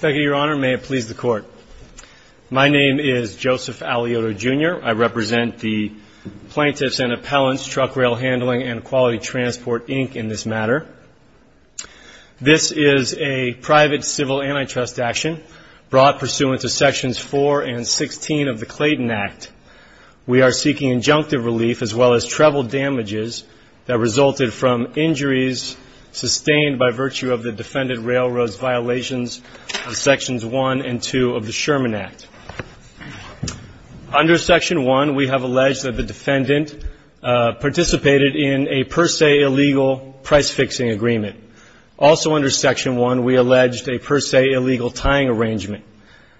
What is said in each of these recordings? Thank you, Your Honor. May it please the Court. My name is Joseph Aliotto, Jr. I represent the Plaintiffs and Appellants, Truck-Rail Handling and Quality Transport, Inc. in this matter. This is a private civil antitrust action brought pursuant to Sections 4 and 16 of the Clayton Act. We are seeking injunctive relief as well as treble damages that resulted from injuries sustained by virtue of the defendant railroad's violations of Sections 1 and 2 of the Sherman Act. Under Section 1, we have alleged that the defendant participated in a per se illegal price-fixing agreement. Also under Section 1, we alleged a per se illegal tying arrangement.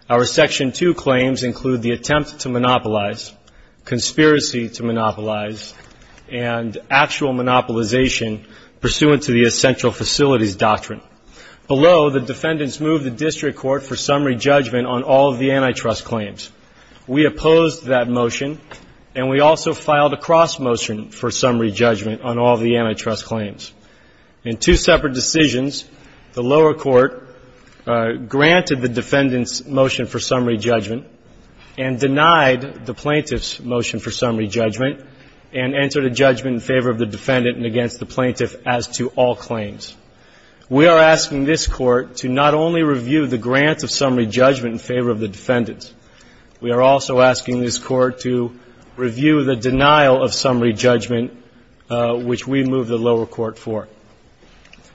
Our Section 2 claims include the attempt to monopolize, conspiracy to monopolize, and actual monopolization pursuant to the essential facilities doctrine. Below, the defendants moved the district court for summary judgment on all of the antitrust claims. We opposed that motion, and we also filed a cross-motion for summary judgment on all of the antitrust claims. In two separate decisions, the lower court granted the defendants' motion for summary judgment and denied the plaintiffs' motion for summary judgment and entered a judgment in favor of the defendant and against the plaintiff as to all claims. We are asking this Court to not only review the grant of summary judgment in favor of the defendants. We are also asking this Court to review the denial of summary judgment, which we moved the lower court for.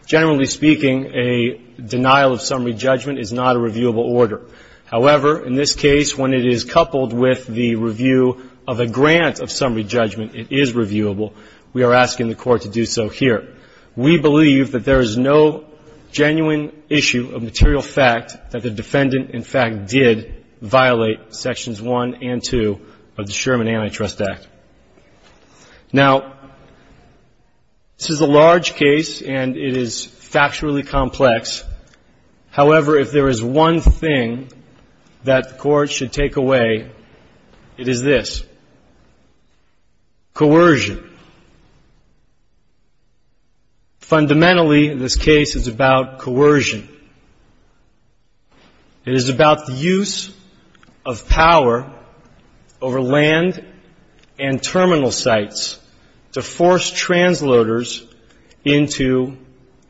Generally speaking, a denial of summary judgment is not a reviewable order. However, in this case, when it is coupled with the review of a grant of summary judgment, it is reviewable. We are asking the Court to do so here. We believe that there is no genuine issue of material fact that the defendant, in fact, did violate sections 1 and 2 of the Sherman Antitrust Act. Now, this is a large case, and it is factually complex. However, if there is one thing that the Court should take away, it is this, coercion. Fundamentally, this case is about coercion. It is about the use of power over land and terminal sites to force transloaders into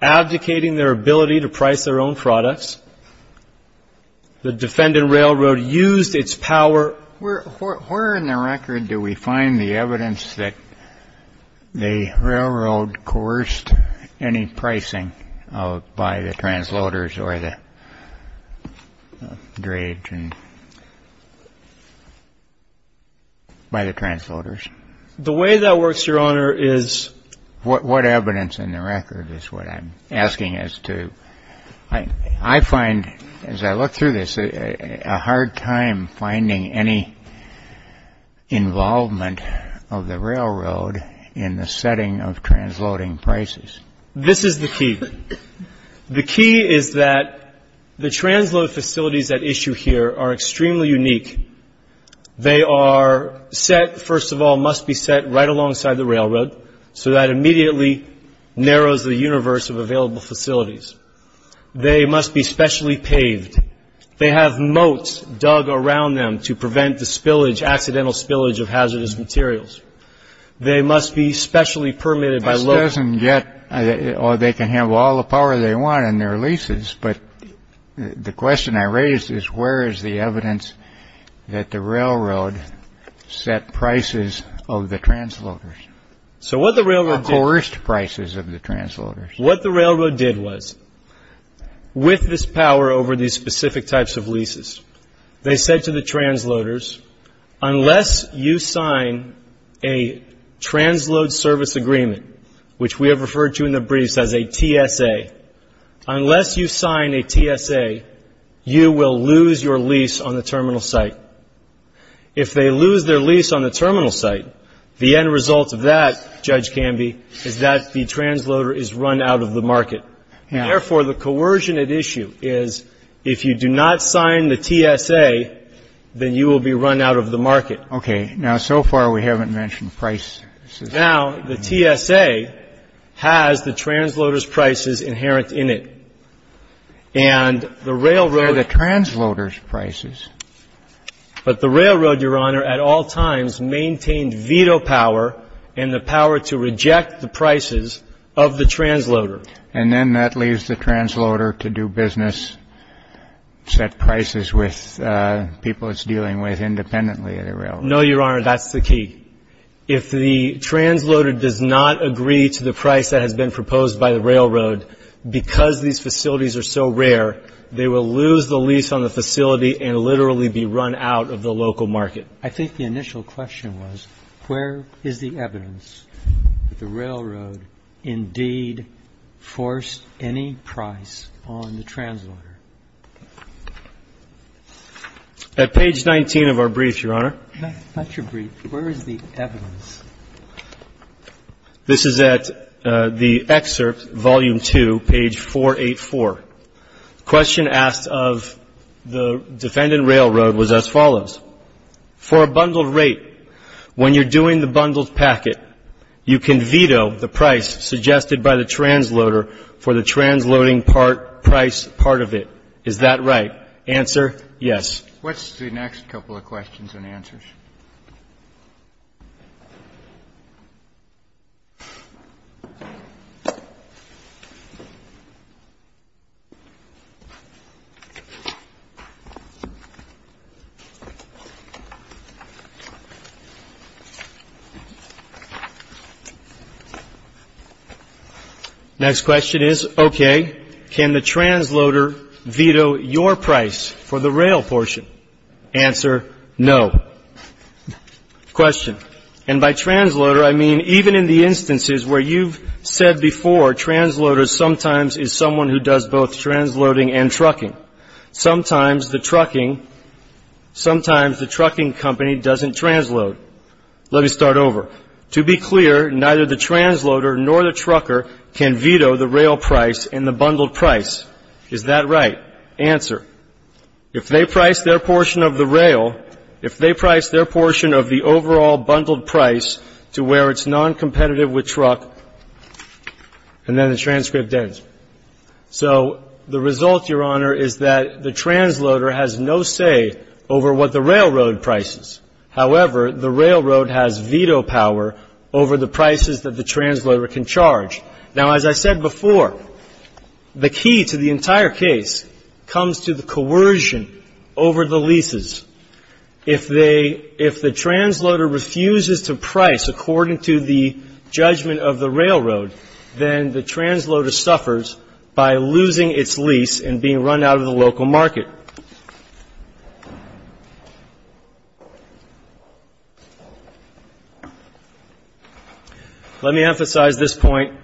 abdicating their ability to price their own products. The defendant railroad used its power. Where in the record do we find the evidence that the railroad coerced any pricing by the transloaders or the drage and by the transloaders? The way that works, Your Honor, is... What evidence in the record is what I'm asking as to... I find, as I look through this, a hard time finding any involvement of the railroad in the setting of transloading prices. This is the key. The key is that the transload facilities at issue here are extremely unique. They are set, first of all, must be set right alongside the railroad, so that immediately narrows the universe of available facilities. They must be specially paved. They have moats dug around them to prevent the spillage, accidental spillage of hazardous materials. They must be specially permitted by local... This doesn't get... Oh, they can have all the power they want in their leases, but the question I raise is where is the evidence that the railroad set prices of the transloaders? So what the railroad did... Coerced prices of the transloaders. What the railroad did was, with this power over these specific types of leases, they said to the transloaders, unless you sign a transload service agreement, which we have referred to in the briefs as a TSA, unless you sign a TSA, you will lose your lease on the terminal site. If they lose their lease on the terminal site, the end result of that, Judge Canby, is that the transloader is run out of the market. Therefore, the coercion at issue is if you do not sign the TSA, then you will be run out of the market. Okay. Now, so far we haven't mentioned price. Now, the TSA has the transloader's prices inherent in it, and the railroad... They're the transloader's prices. But the railroad, Your Honor, at all times maintained veto power and the power to reject the prices of the transloader. And then that leaves the transloader to do business, set prices with people it's dealing with independently of the railroad. No, Your Honor, that's the key. If the transloader does not agree to the price that has been proposed by the railroad, because these facilities are so rare, they will lose the lease on the facility and literally be run out of the local market. But I think the initial question was, where is the evidence that the railroad indeed forced any price on the transloader? At page 19 of our brief, Your Honor. Not your brief. Where is the evidence? This is at the excerpt, volume 2, page 484. The question asked of the defendant railroad was as follows. For a bundled rate, when you're doing the bundled packet, you can veto the price suggested by the transloader for the transloading price part of it. Is that right? Answer, yes. What's the next couple of questions and answers? Next question is, okay, can the transloader veto your price for the rail portion? Answer, no. Question. And by transloader, I mean even in the instances where you've said before, transloader sometimes is someone who does both transloading and trucking. Sometimes the trucking company doesn't transload. Let me start over. To be clear, neither the transloader nor the trucker can veto the rail price in the bundled price. Is that right? Answer. If they price their portion of the rail, if they price their portion of the overall bundled price to where it's noncompetitive with truck, and then the transcript ends. So the result, Your Honor, is that the transloader has no say over what the railroad prices. However, the railroad has veto power over the prices that the transloader can charge. Now, as I said before, the key to the entire case comes to the coercion over the leases. If they, if the transloader refuses to price according to the judgment of the railroad, then the transloader suffers by losing its lease and being run out of the local market. Your Honor, let me emphasize this point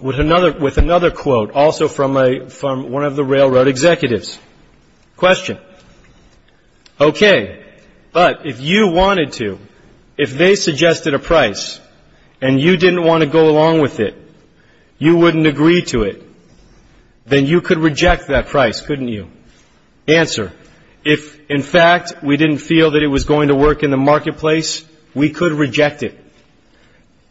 with another quote also from one of the railroad executives. Question. Okay. But if you wanted to, if they suggested a price and you didn't want to go along with it, you wouldn't agree to it, then you could reject that price, couldn't you? Answer. If, in fact, we didn't feel that it was going to work in the marketplace, we could reject it.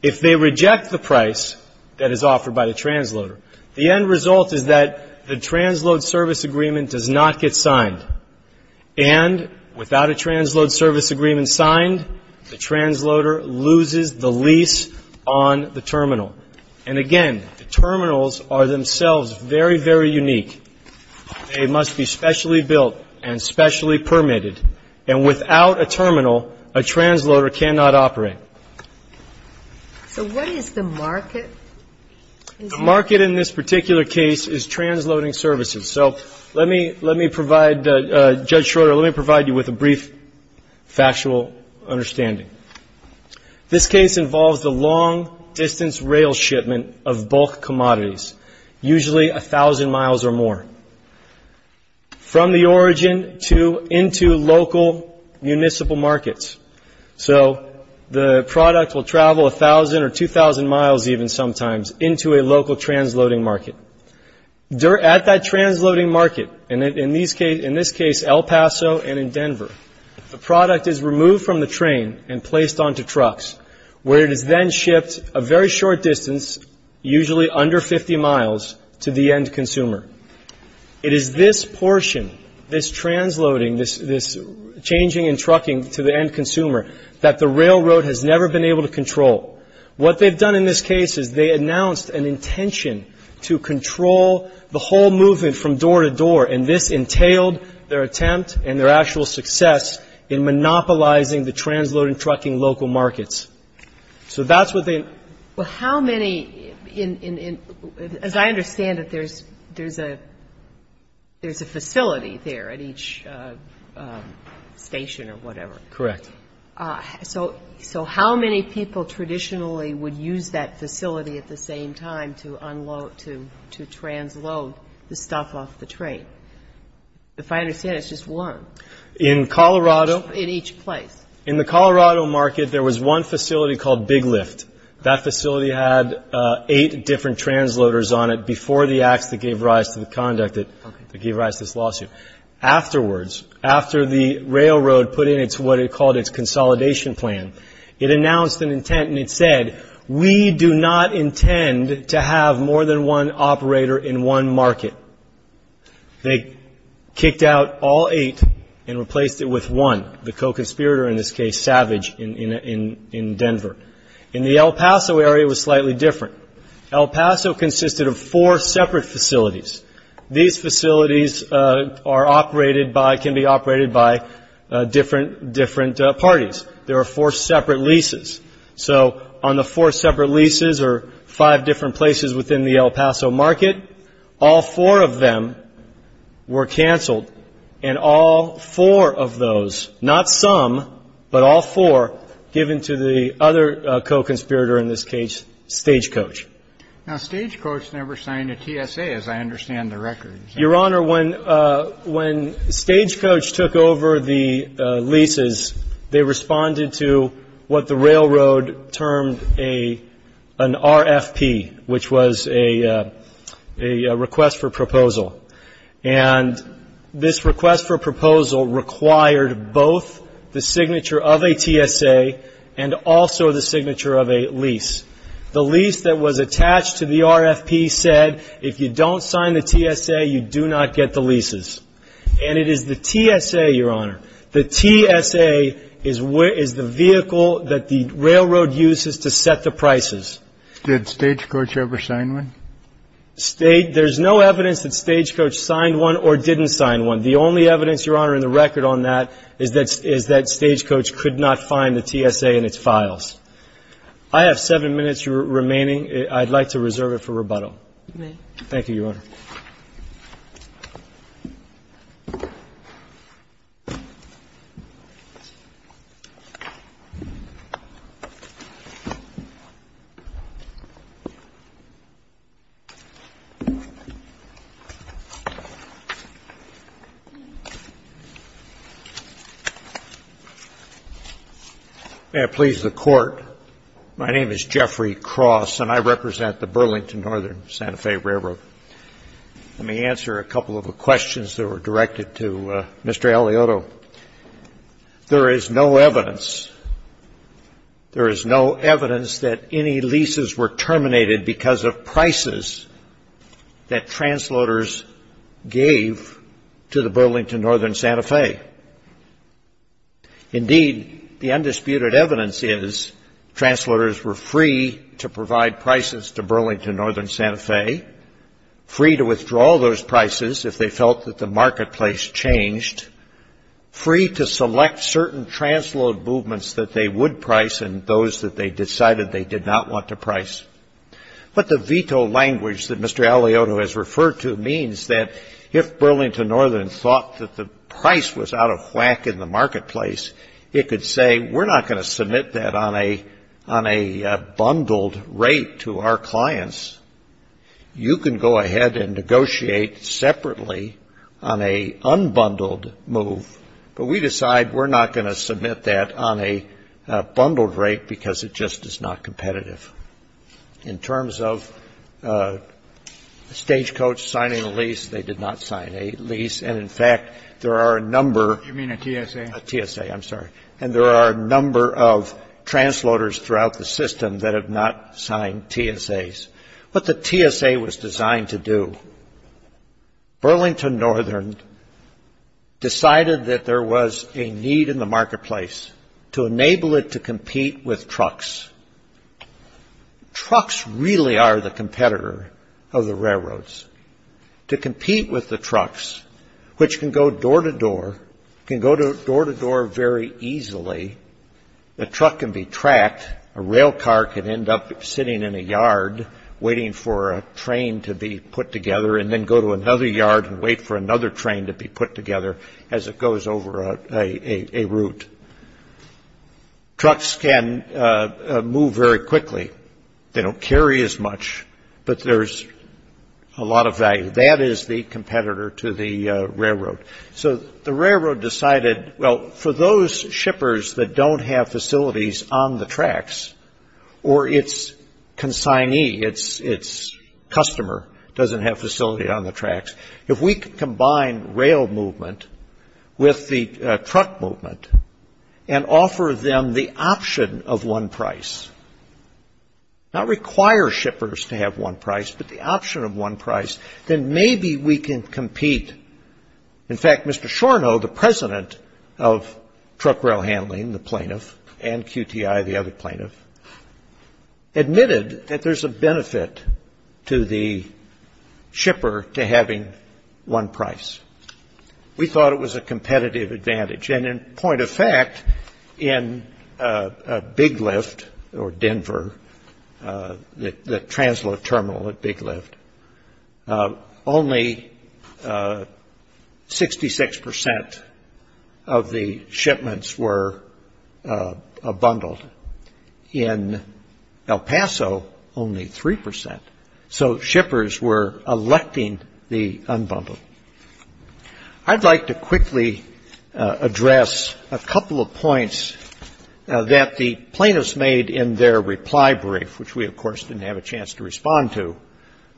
If they reject the price that is offered by the transloader, the end result is that the transload service agreement does not get signed. And without a transload service agreement signed, the transloader loses the lease on the terminal. And, again, the terminals are themselves very, very unique. They must be specially built and specially permitted. And without a terminal, a transloader cannot operate. So what is the market? The market in this particular case is transloading services. So let me provide, Judge Schroeder, let me provide you with a brief factual understanding. This case involves the long-distance rail shipment of bulk commodities, usually 1,000 miles or more, from the origin into local municipal markets. So the product will travel 1,000 or 2,000 miles even sometimes into a local transloading market. At that transloading market, in this case El Paso and in Denver, the product is removed from the train and placed onto trucks, where it is then shipped a very short distance, usually under 50 miles, to the end consumer. It is this portion, this transloading, this changing and trucking to the end consumer, that the railroad has never been able to control. What they've done in this case is they announced an intention to control the whole movement from door to door. And this entailed their attempt and their actual success in monopolizing the transloading, trucking local markets. So that's what they. Well, how many, as I understand it, there's a facility there at each station or whatever. Correct. So how many people traditionally would use that facility at the same time to unload, to transload the stuff off the train? If I understand it, it's just one. In Colorado. In each place. In the Colorado market, there was one facility called Big Lift. That facility had eight different transloaders on it before the acts that gave rise to the conduct that gave rise to this lawsuit. Afterwards, after the railroad put in what it called its consolidation plan, it announced an intent and it said, we do not intend to have more than one operator in one market. They kicked out all eight and replaced it with one, the co-conspirator in this case, Savage, in Denver. And the El Paso area was slightly different. El Paso consisted of four separate facilities. These facilities are operated by, can be operated by different, different parties. There are four separate leases. So on the four separate leases or five different places within the El Paso market, all four of them were canceled and all four of those, not some, but all four given to the other co-conspirator in this case, Stagecoach. Now, Stagecoach never signed a TSA, as I understand the record. Your Honor, when Stagecoach took over the leases, they responded to what the railroad termed an RFP, which was a request for proposal. And this request for proposal required both the signature of a TSA and also the signature of a lease. The lease that was attached to the RFP said if you don't sign the TSA, you do not get the leases. And it is the TSA, Your Honor, the TSA is the vehicle that the railroad uses to set the prices. Did Stagecoach ever sign one? There's no evidence that Stagecoach signed one or didn't sign one. The only evidence, Your Honor, in the record on that is that Stagecoach could not find the TSA in its files. I have seven minutes remaining. I'd like to reserve it for rebuttal. May I please the Court? My name is Jeffrey Cross, and I represent the Burlington Northern Santa Fe Railroad. Let me answer a couple of the questions that were directed to Mr. Eliotto. There is no evidence, there is no evidence that any leases were terminated because of prices that transloaders gave to the Burlington Northern Santa Fe. Indeed, the undisputed evidence is transloaders were free to provide prices to Burlington Northern Santa Fe, free to withdraw those prices if they felt that the marketplace changed, free to select certain transload movements that they would price and those that they decided they did not want to price. But the veto language that Mr. Eliotto has referred to means that if Burlington Northern thought that the price was out of whack in the marketplace, it could say we're not going to submit that on a bundled rate to our clients. You can go ahead and negotiate separately on a unbundled move, but we decide we're not going to submit that on a bundled rate because it just is not competitive. In terms of stagecoach signing a lease, they did not sign a lease, and in fact, there are a number. You mean a TSA? A TSA, I'm sorry. And there are a number of transloaders throughout the system that have not signed TSAs. What the TSA was designed to do, Burlington Northern decided that there was a need in the marketplace to enable it to compete with trucks. Trucks really are the competitor of the railroads. To compete with the trucks, which can go door to door, can go door to door very easily. The truck can be tracked. A railcar could end up sitting in a yard waiting for a train to be put together and then go to another yard and wait for another train to be put together as it goes over a route. Trucks can move very quickly. They don't carry as much, but there's a lot of value. That is the competitor to the railroad. So the railroad decided, well, for those shippers that don't have facilities on the tracks or its consignee, its customer doesn't have facility on the tracks, if we could combine rail movement with the truck movement and offer them the option of one price, not require shippers to have one price, but the option of one price, then maybe we can compete. In fact, Mr. Shornow, the president of truck rail handling, the plaintiff, and QTI, the other plaintiff, admitted that there's a benefit to the shipper to having one price. We thought it was a competitive advantage. And in point of fact, in Big Lift or Denver, the transload terminal at Big Lift, only 66 percent of the shipments were bundled. In El Paso, only 3 percent. So shippers were electing the unbundled. I'd like to quickly address a couple of points that the plaintiffs made in their reply brief, which we, of course, didn't have a chance to respond to.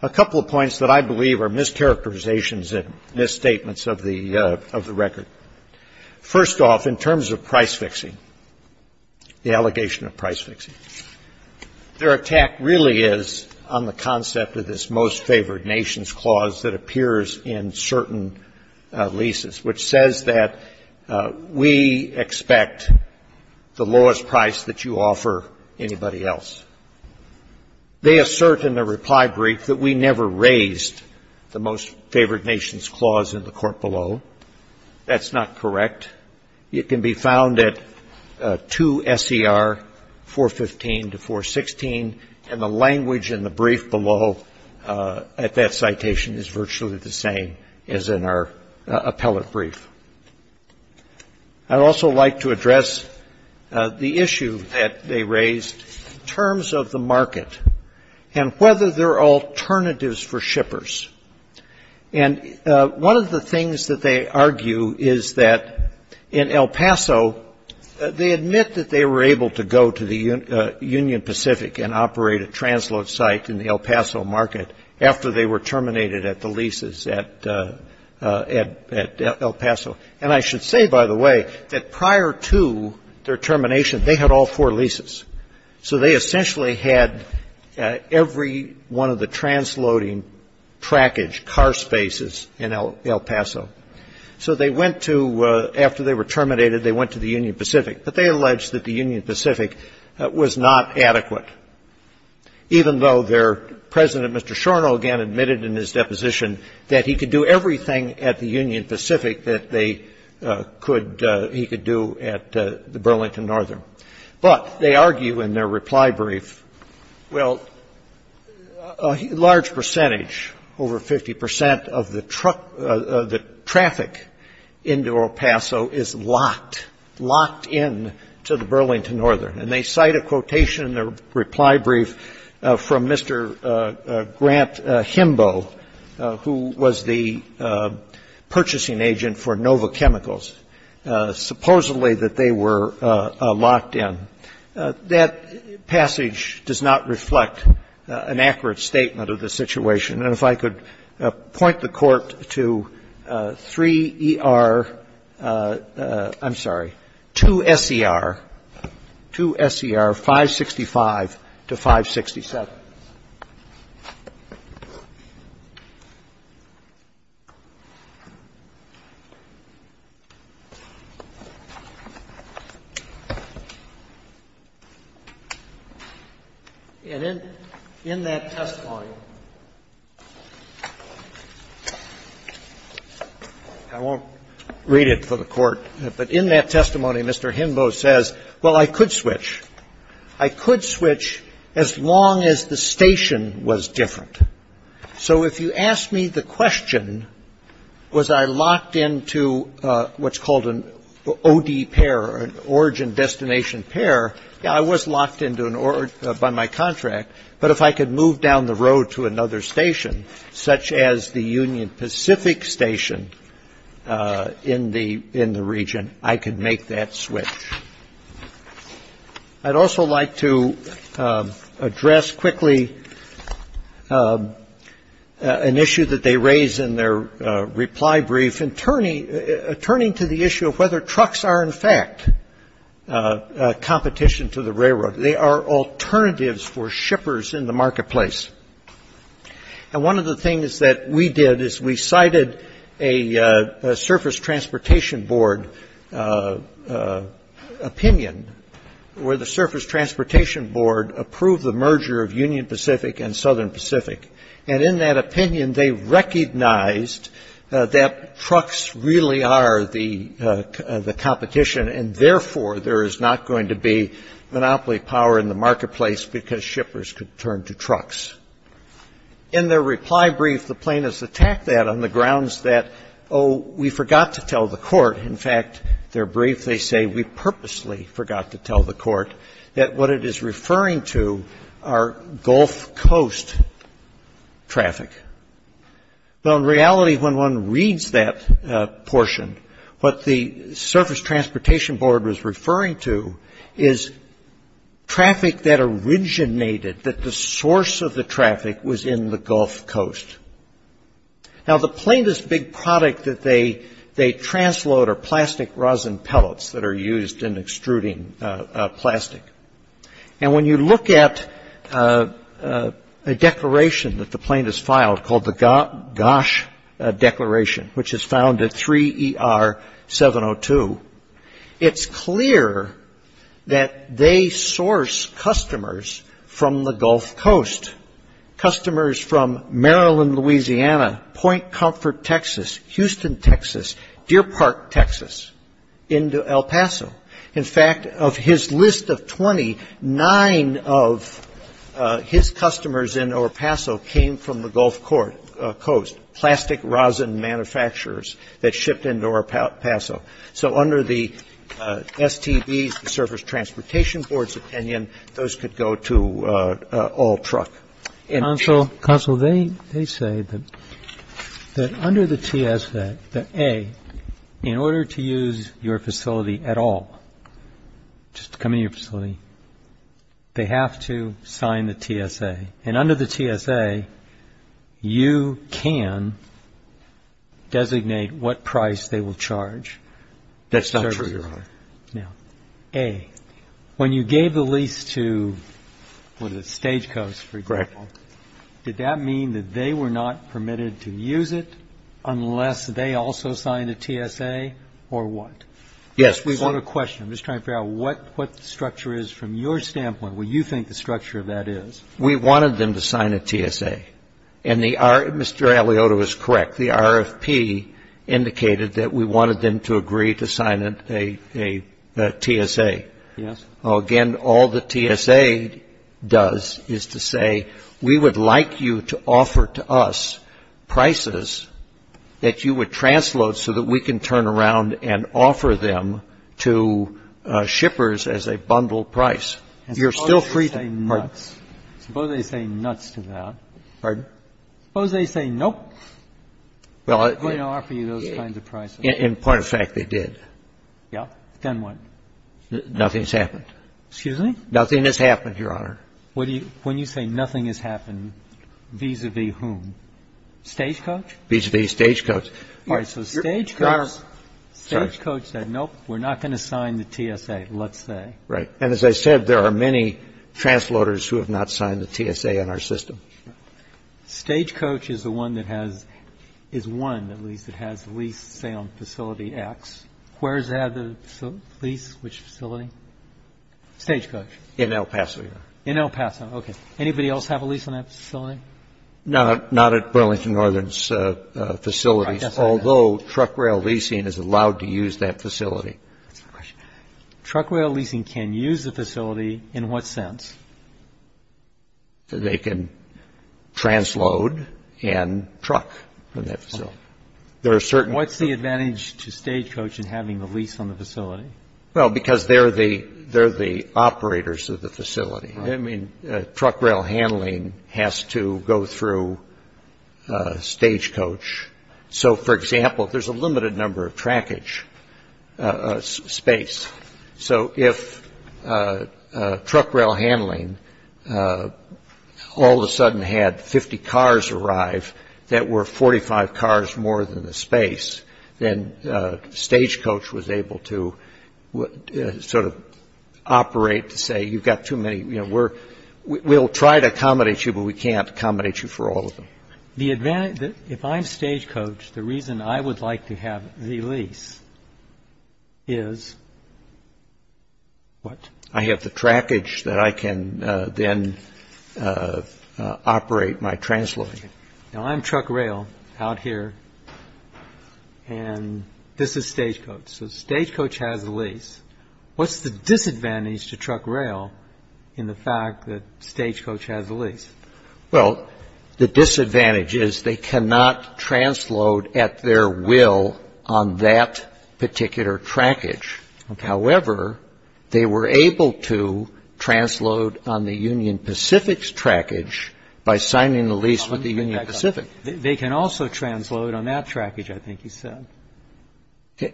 A couple of points that I believe are mischaracterizations and misstatements of the record. First off, in terms of price fixing, the allegation of price fixing, their attack really is on the concept of this most favored nations clause that appears in certain leases, which says that we expect the lowest price that you offer anybody else. They assert in their reply brief that we never raised the most favored nations clause in the court below. That's not correct. It can be found at 2 S.E.R. 415 to 416, and the language in the brief below at that citation is virtually the same as in our appellate brief. I'd also like to address the issue that they raised in terms of the market And one of the things that they argue is that in El Paso, they admit that they were able to go to the Union Pacific and operate a transload site in the El Paso market after they were terminated at the leases at El Paso. And I should say, by the way, that prior to their termination, they had all four leases. So they essentially had every one of the transloading trackage car spaces in El Paso. So they went to, after they were terminated, they went to the Union Pacific, but they alleged that the Union Pacific was not adequate, even though their President, Mr. Shornow, again admitted in his deposition that he could do everything at the Union Pacific that they could he could do at the Burlington Northern. But they argue in their reply brief, well, a large percentage, over 50 percent of the traffic into El Paso is locked, locked in to the Burlington Northern. And they cite a quotation in their reply brief from Mr. Grant Himbo, who was the purchasing agent for Nova Chemicals, supposedly that they were locked in. That passage does not reflect an accurate statement of the situation. And if I could point the Court to 3ER ‑‑ I'm sorry, 2SCR, 2SCR 565 to 567. In that testimony, I won't read it for the Court, but in that testimony, Mr. Himbo says, well, I could switch. I could switch as long as the station was different. So if you asked me the question, was I locked in to what's called an OD pair, or an origin destination pair, yeah, I was locked in by my contract. But if I could move down the road to another station, such as the Union Pacific Station in the region, I could make that switch. I'd also like to address quickly an issue that they raise in their reply brief in turning to the issue of whether trucks are, in fact, competition to the railroad. They are alternatives for shippers in the marketplace. And one of the things that we did is we cited a surface transportation board opinion where the surface transportation board approved the merger of Union Pacific and Southern Pacific. And in that opinion, they recognized that trucks really are the competition, and therefore, there is not going to be monopoly power in the marketplace because shippers could turn to trucks. In their reply brief, the plaintiffs attack that on the grounds that, oh, we forgot to tell the Court. In fact, their brief, they say, we purposely forgot to tell the Court that what it is referring to are Gulf Coast traffic. Now, in reality, when one reads that portion, what the surface transportation board was referring to is traffic that originated, that the source of the traffic was in the Gulf Coast. Now, the plaintiff's big product that they transload are plastic rosin pellets that are used in extruding plastic. And when you look at a declaration that the plaintiff's filed called the GOSH declaration, which is found at 3ER702, it's clear that they source customers from the Gulf Coast, customers from Maryland, Louisiana, Point Comfort, Texas, Houston, Texas, Deer Park, Texas, into El Paso. In fact, of his list of 20, nine of his customers in El Paso came from the Gulf Coast, plastic rosin manufacturers that shipped into El Paso. So under the STBs, the surface transportation board's opinion, those could go to all truck. Counsel, they say that under the TSA, that A, in order to use your facility at all, just to come into your facility, they have to sign the TSA. And under the TSA, you can designate what price they will charge. Now, A, when you gave the lease to, what is it, Stagecoast, for example, did that mean that they were not permitted to use it unless they also signed a TSA or what? Yes. We want a question. I'm just trying to figure out what the structure is from your standpoint, what you think the structure of that is. We wanted them to sign a TSA. And Mr. Aliota was correct. The RFP indicated that we wanted them to agree to sign a TSA. Yes. Again, all the TSA does is to say we would like you to offer to us prices that you would transload so that we can turn around and offer them to shippers as a bundle price. You're still free to do that. Suppose they say nuts. Pardon? Suppose they say nuts to that. Pardon? Suppose they say nuts to that. Well, I'm not going to offer you those kinds of prices. In point of fact, they did. Yeah. Then what? Nothing's happened. Excuse me? Nothing has happened, Your Honor. When you say nothing has happened, vis-a-vis whom? Stagecoast? Vis-a-vis Stagecoast. All right. So Stagecoast said, nope, we're not going to sign the TSA, let's say. Right. And as I said, there are many transloaders who have not signed the TSA in our system. Stagecoast is the one that has leased, say, on Facility X. Where is that leased? Which facility? Stagecoast. In El Paso, Your Honor. In El Paso. Okay. Anybody else have a lease on that facility? Not at Burlington Northern's facilities, although truck rail leasing is allowed to use that facility. That's my question. Truck rail leasing can use the facility in what sense? They can transload and truck from that facility. What's the advantage to Stagecoast in having a lease on the facility? Well, because they're the operators of the facility. I mean, truck rail handling has to go through Stagecoast. So, for example, there's a limited number of trackage space. So if truck rail handling all of a sudden had 50 cars arrive that were 45 cars more than the space, then Stagecoast was able to sort of operate to say, you've got too many. We'll try to accommodate you, but we can't accommodate you for all of them. If I'm Stagecoast, the reason I would like to have the lease is what? I have the trackage that I can then operate my transloading. Now, I'm truck rail out here, and this is Stagecoast. So Stagecoast has a lease. What's the disadvantage to truck rail in the fact that Stagecoast has a lease? Well, the disadvantage is they cannot transload at their will on that particular trackage. However, they were able to transload on the Union Pacific's trackage by signing the lease with the Union Pacific. They can also transload on that trackage, I think you said. Okay.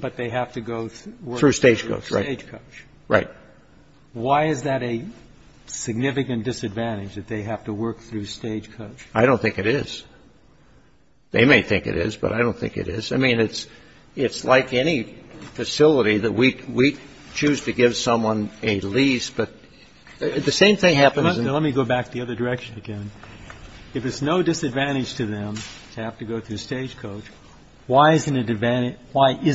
But they have to go through Stagecoast. Right. Why is that a significant disadvantage, that they have to work through Stagecoast? I don't think it is. They may think it is, but I don't think it is. I mean, it's like any facility that we choose to give someone a lease, but the same thing happens. Let me go back the other direction again. If it's no disadvantage to them to have to go through Stagecoast, because Stagecoast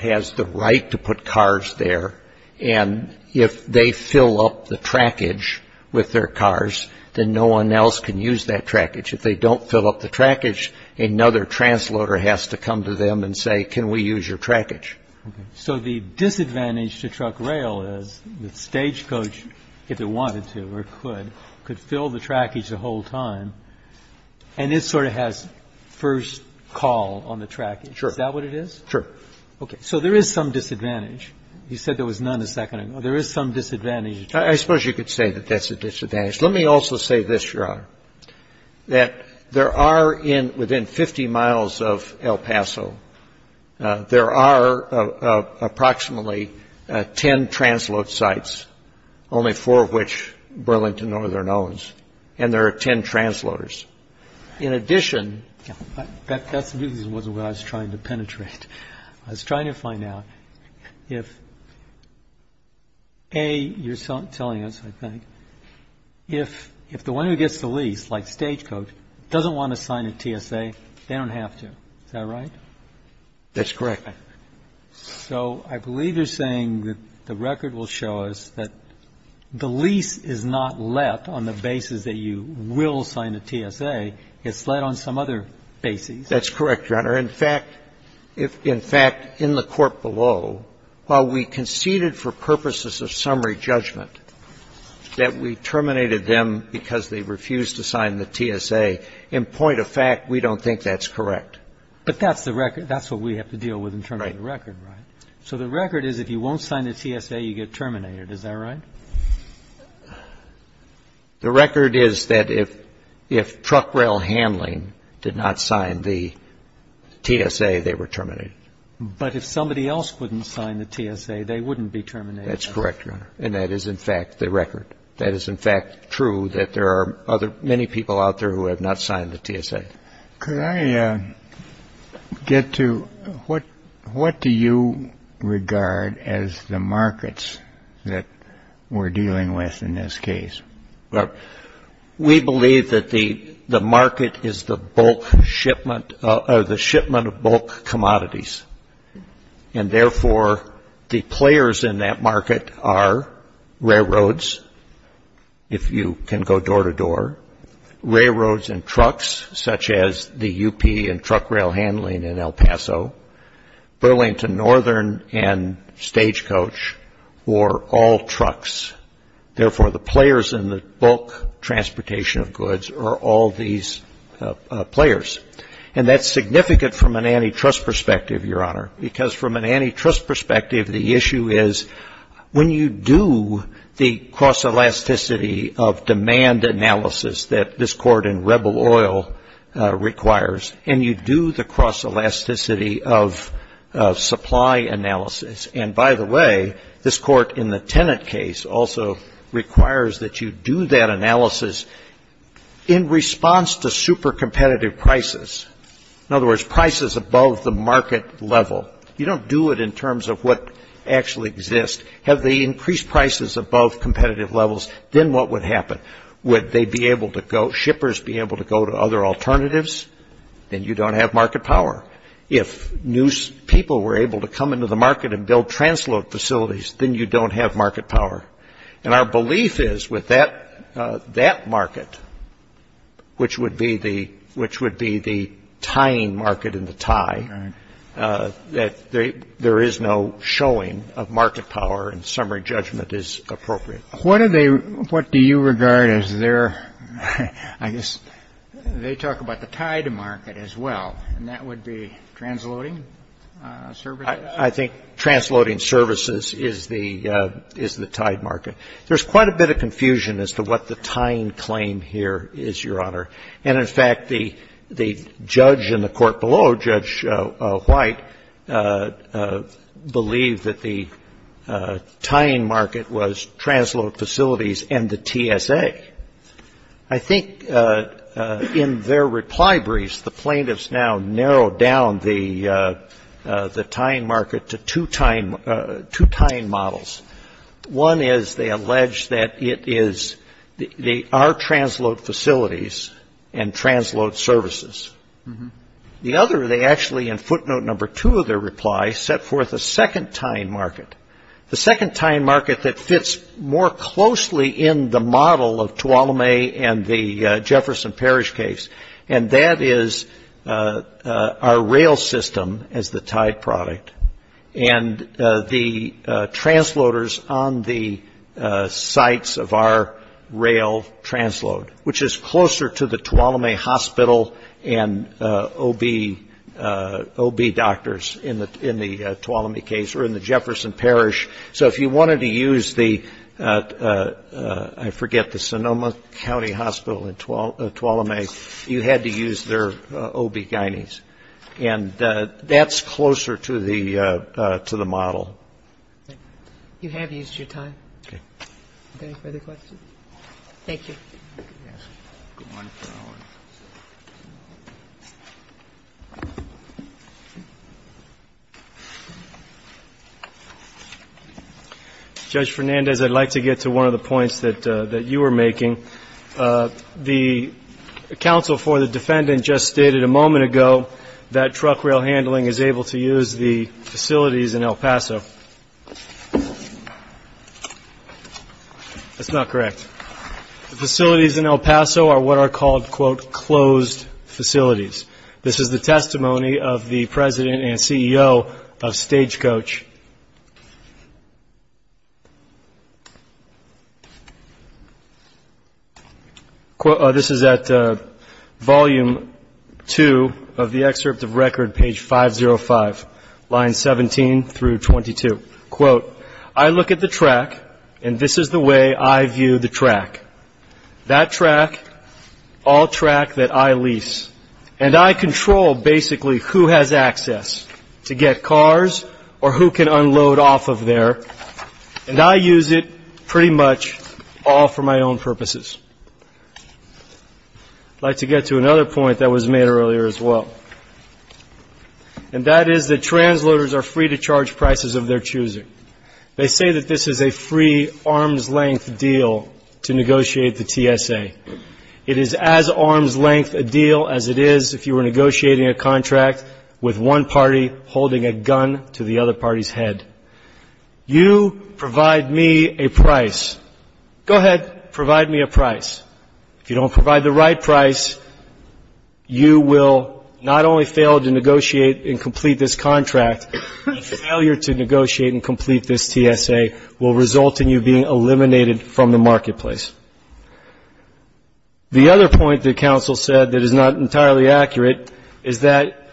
has the right to put cars there, and if they fill up the trackage with their cars, then no one else can use that trackage. If they don't fill up the trackage, another transloader has to come to them and say, can we use your trackage? So the disadvantage to truck rail is that Stagecoast, if it wanted to or could, could fill the trackage the whole time, and it sort of has first call on the trackage. Sure. Is that what it is? Sure. Okay. So there is some disadvantage. You said there was none a second ago. There is some disadvantage. I suppose you could say that that's a disadvantage. Let me also say this, Your Honor, that there are within 50 miles of El Paso, there are approximately ten transload sites, only four of which Burlington Northern owns, and there are ten transloaders. In addition... That wasn't what I was trying to penetrate. I was trying to find out if, A, you're telling us, I think, if the one who gets the lease, like Stagecoast, doesn't want to sign a TSA, they don't have to. Is that right? That's correct. So I believe you're saying that the record will show us that the lease is not let on the basis that you will sign a TSA. It's let on some other basis. That's correct, Your Honor. In fact, in the court below, while we conceded for purposes of summary judgment that we terminated them because they refused to sign the TSA, in point of fact, we don't think that's correct. But that's the record. That's what we have to deal with in terms of the record. Right. So the record is if you won't sign the TSA, you get terminated. Is that right? The record is that if truck rail handling did not sign the TSA, they were terminated. But if somebody else wouldn't sign the TSA, they wouldn't be terminated. That's correct, Your Honor. And that is, in fact, the record. That is, in fact, true that there are many people out there who have not signed the TSA. Could I get to what do you regard as the markets that we're dealing with in this case? We believe that the market is the shipment of bulk commodities, and, therefore, the players in that market are railroads, if you can go door-to-door, railroads and trucks, such as the UP and truck rail handling in El Paso, Burlington Northern and Stagecoach, or all trucks. Therefore, the players in the bulk transportation of goods are all these players. And that's significant from an antitrust perspective, Your Honor, because from an antitrust perspective, the issue is when you do the cross-elasticity of demand analysis that this court in Rebel Oil requires, and you do the cross-elasticity of supply analysis. And, by the way, this court in the Tenet case also requires that you do that analysis in response to super competitive prices. In other words, prices above the market level. You don't do it in terms of what actually exists. Have they increased prices above competitive levels, then what would happen? Would they be able to go, shippers be able to go to other alternatives? Then you don't have market power. If new people were able to come into the market and build transload facilities, then you don't have market power. And our belief is with that market, which would be the tying market and the tie, that there is no showing of market power and summary judgment is appropriate. What do you regard as their, I guess they talk about the tied market as well, and that would be transloading services? I think transloading services is the tied market. There's quite a bit of confusion as to what the tying claim here is, Your Honor. And, in fact, the judge in the court below, Judge White, believed that the tying market was transload facilities and the TSA. I think in their reply briefs, the plaintiffs now narrowed down the tying market to two tying models. One is they allege that it is, they are transload facilities and transload services. The other, they actually in footnote number two of their reply, set forth a second tying market, the second tying market that fits more closely in the model of Tuolumne and the Jefferson Parish case. And that is our rail system as the tied product and the transloaders on the sites of our rail transload, which is closer to the Tuolumne Hospital and OB doctors in the Tuolumne case or in the Jefferson Parish. So if you wanted to use the, I forget, the Sonoma County Hospital in Tuolumne, you had to use their OB guidance. And that's closer to the model. Thank you. You have used your time. Okay. Any further questions? Thank you. Good morning, Your Honor. Judge Fernandez, I'd like to get to one of the points that you were making. The counsel for the defendant just stated a moment ago that truck rail handling is able to use the facilities in El Paso. Thank you. That's not correct. The facilities in El Paso are what are called, quote, closed facilities. This is the testimony of the President and CEO of Stagecoach. This is at volume two of the excerpt of record, page 505, lines 17 through 22. Quote, I look at the track, and this is the way I view the track. That track, all track that I lease. And I control basically who has access to get cars or who can unload off of there. And I use it pretty much all for my own purposes. I'd like to get to another point that was made earlier as well, and that is that transloaders are free to charge prices of their choosing. They say that this is a free, arm's-length deal to negotiate the TSA. It is as arm's-length a deal as it is if you were negotiating a contract with one party holding a gun to the other party's head. You provide me a price. Go ahead, provide me a price. If you don't provide the right price, you will not only fail to negotiate and complete this contract, the failure to negotiate and complete this TSA will result in you being eliminated from the marketplace. The other point that counsel said that is not entirely accurate is that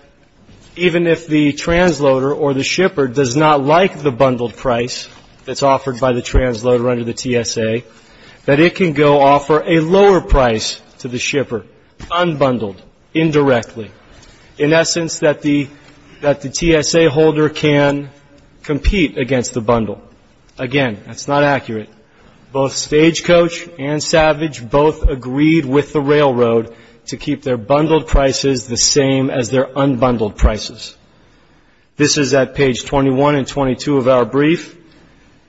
even if the transloader or the shipper does not like the bundled price that's offered by the transloader under the TSA, that it can go offer a lower price to the shipper, unbundled, indirectly. In essence, that the TSA holder can compete against the bundle. Again, that's not accurate. Both Stagecoach and Savage both agreed with the railroad to keep their bundled prices the same as their unbundled prices. This is at page 21 and 22 of our brief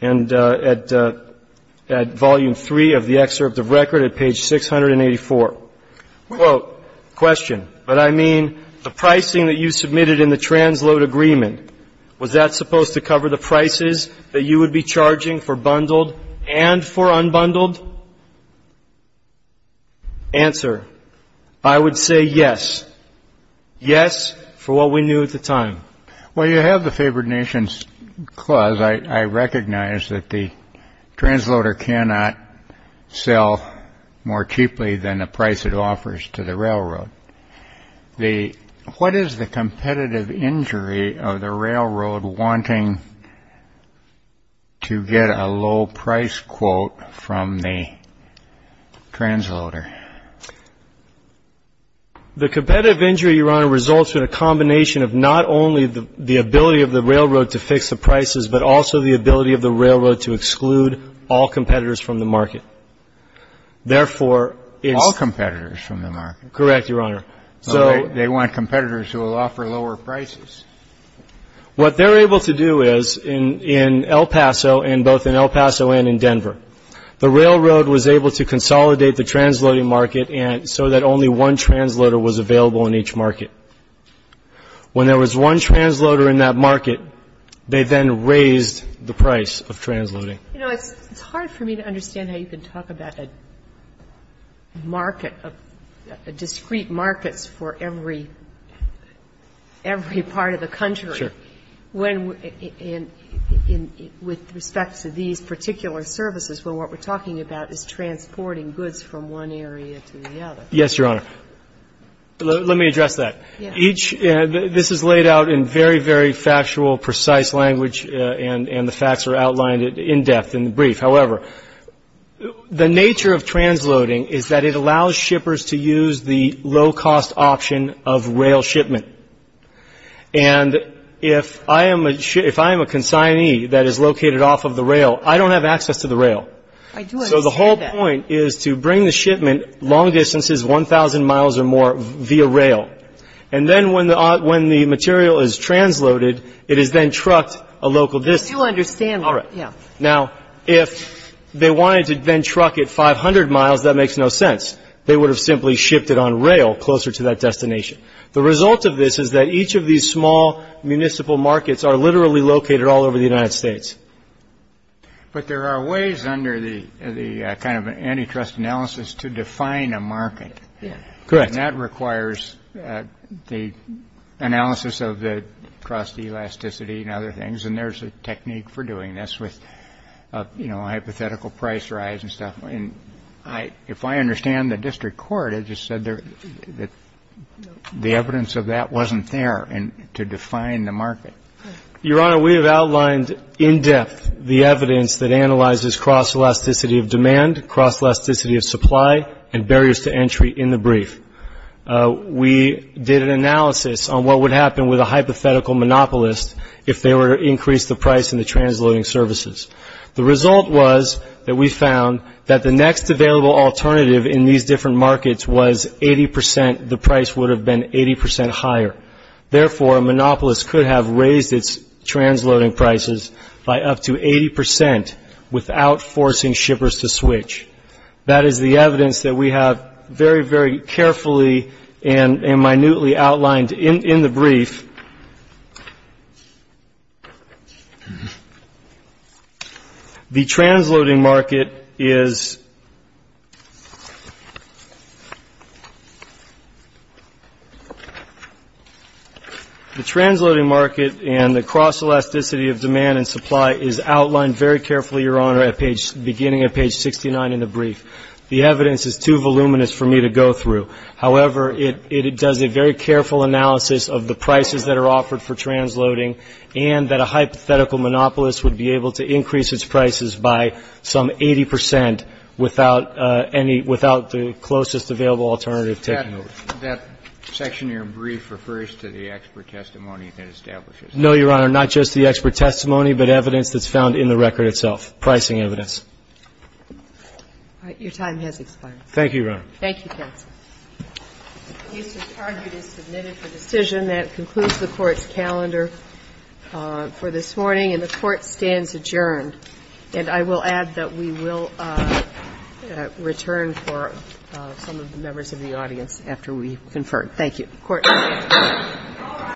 and at volume 3 of the excerpt of record at page 684. Quote, question, but I mean the pricing that you submitted in the transload agreement, was that supposed to cover the prices that you would be charging for bundled and for unbundled? Answer, I would say yes. Yes for what we knew at the time. Well, you have the favored nations clause. I recognize that the transloader cannot sell more cheaply than the price it offers to the railroad. What is the competitive injury of the railroad wanting to get a low price quote from the transloader? The competitive injury, Your Honor, results in a combination of not only the ability of the railroad to fix the prices, but also the ability of the railroad to exclude all competitors from the market. All competitors from the market? Correct, Your Honor. They want competitors who will offer lower prices. What they're able to do is in El Paso and both in El Paso and in Denver, the railroad was able to consolidate the transloading market so that only one transloader was available in each market. When there was one transloader in that market, they then raised the price of transloading. You know, it's hard for me to understand how you can talk about a market, a discrete market for every part of the country. Sure. When, with respect to these particular services, where what we're talking about is transporting goods from one area to the other. Yes, Your Honor. Let me address that. Yes. This is laid out in very, very factual, precise language, and the facts are outlined in depth in the brief. However, the nature of transloading is that it allows shippers to use the low-cost option of rail shipment. And if I am a consignee that is located off of the rail, I don't have access to the rail. So the whole point is to bring the shipment long distances, 1,000 miles or more, via rail. And then when the material is transloaded, it is then trucked a local distance. I do understand that. All right. Now, if they wanted to then truck it 500 miles, that makes no sense. They would have simply shipped it on rail closer to that destination. The result of this is that each of these small municipal markets are literally located all over the United States. But there are ways under the kind of antitrust analysis to define a market. Correct. And that requires the analysis of the cross-elasticity and other things. And there's a technique for doing this with, you know, hypothetical price rise and stuff. And if I understand the district court, it just said that the evidence of that wasn't there to define the market. Your Honor, we have outlined in depth the evidence that analyzes cross-elasticity of demand, cross-elasticity of supply, and barriers to entry in the brief. We did an analysis on what would happen with a hypothetical monopolist if they were to increase the price in the transloading services. The result was that we found that the next available alternative in these different markets was 80%. The price would have been 80% higher. Therefore, a monopolist could have raised its transloading prices by up to 80% without forcing shippers to switch. That is the evidence that we have very, very carefully and minutely outlined in the brief. The transloading market is the transloading market and the cross-elasticity of demand and supply is outlined very carefully, Your Honor, at the beginning of page 69 in the brief. The evidence is too voluminous for me to go through. However, it does a very careful analysis of the prices that are offered for transloading and that a hypothetical monopolist would be able to increase its prices by some 80% without any, without the closest available alternative taken. That section of your brief refers to the expert testimony that establishes that. No, Your Honor. Not just the expert testimony, but evidence that's found in the record itself, pricing evidence. Your time has expired. Thank you, Your Honor. Thank you, counsel. The use of target is submitted for decision. That concludes the Court's calendar for this morning. And the Court stands adjourned. And I will add that we will return for some of the members of the audience after we've conferred. Thank you. Court is adjourned.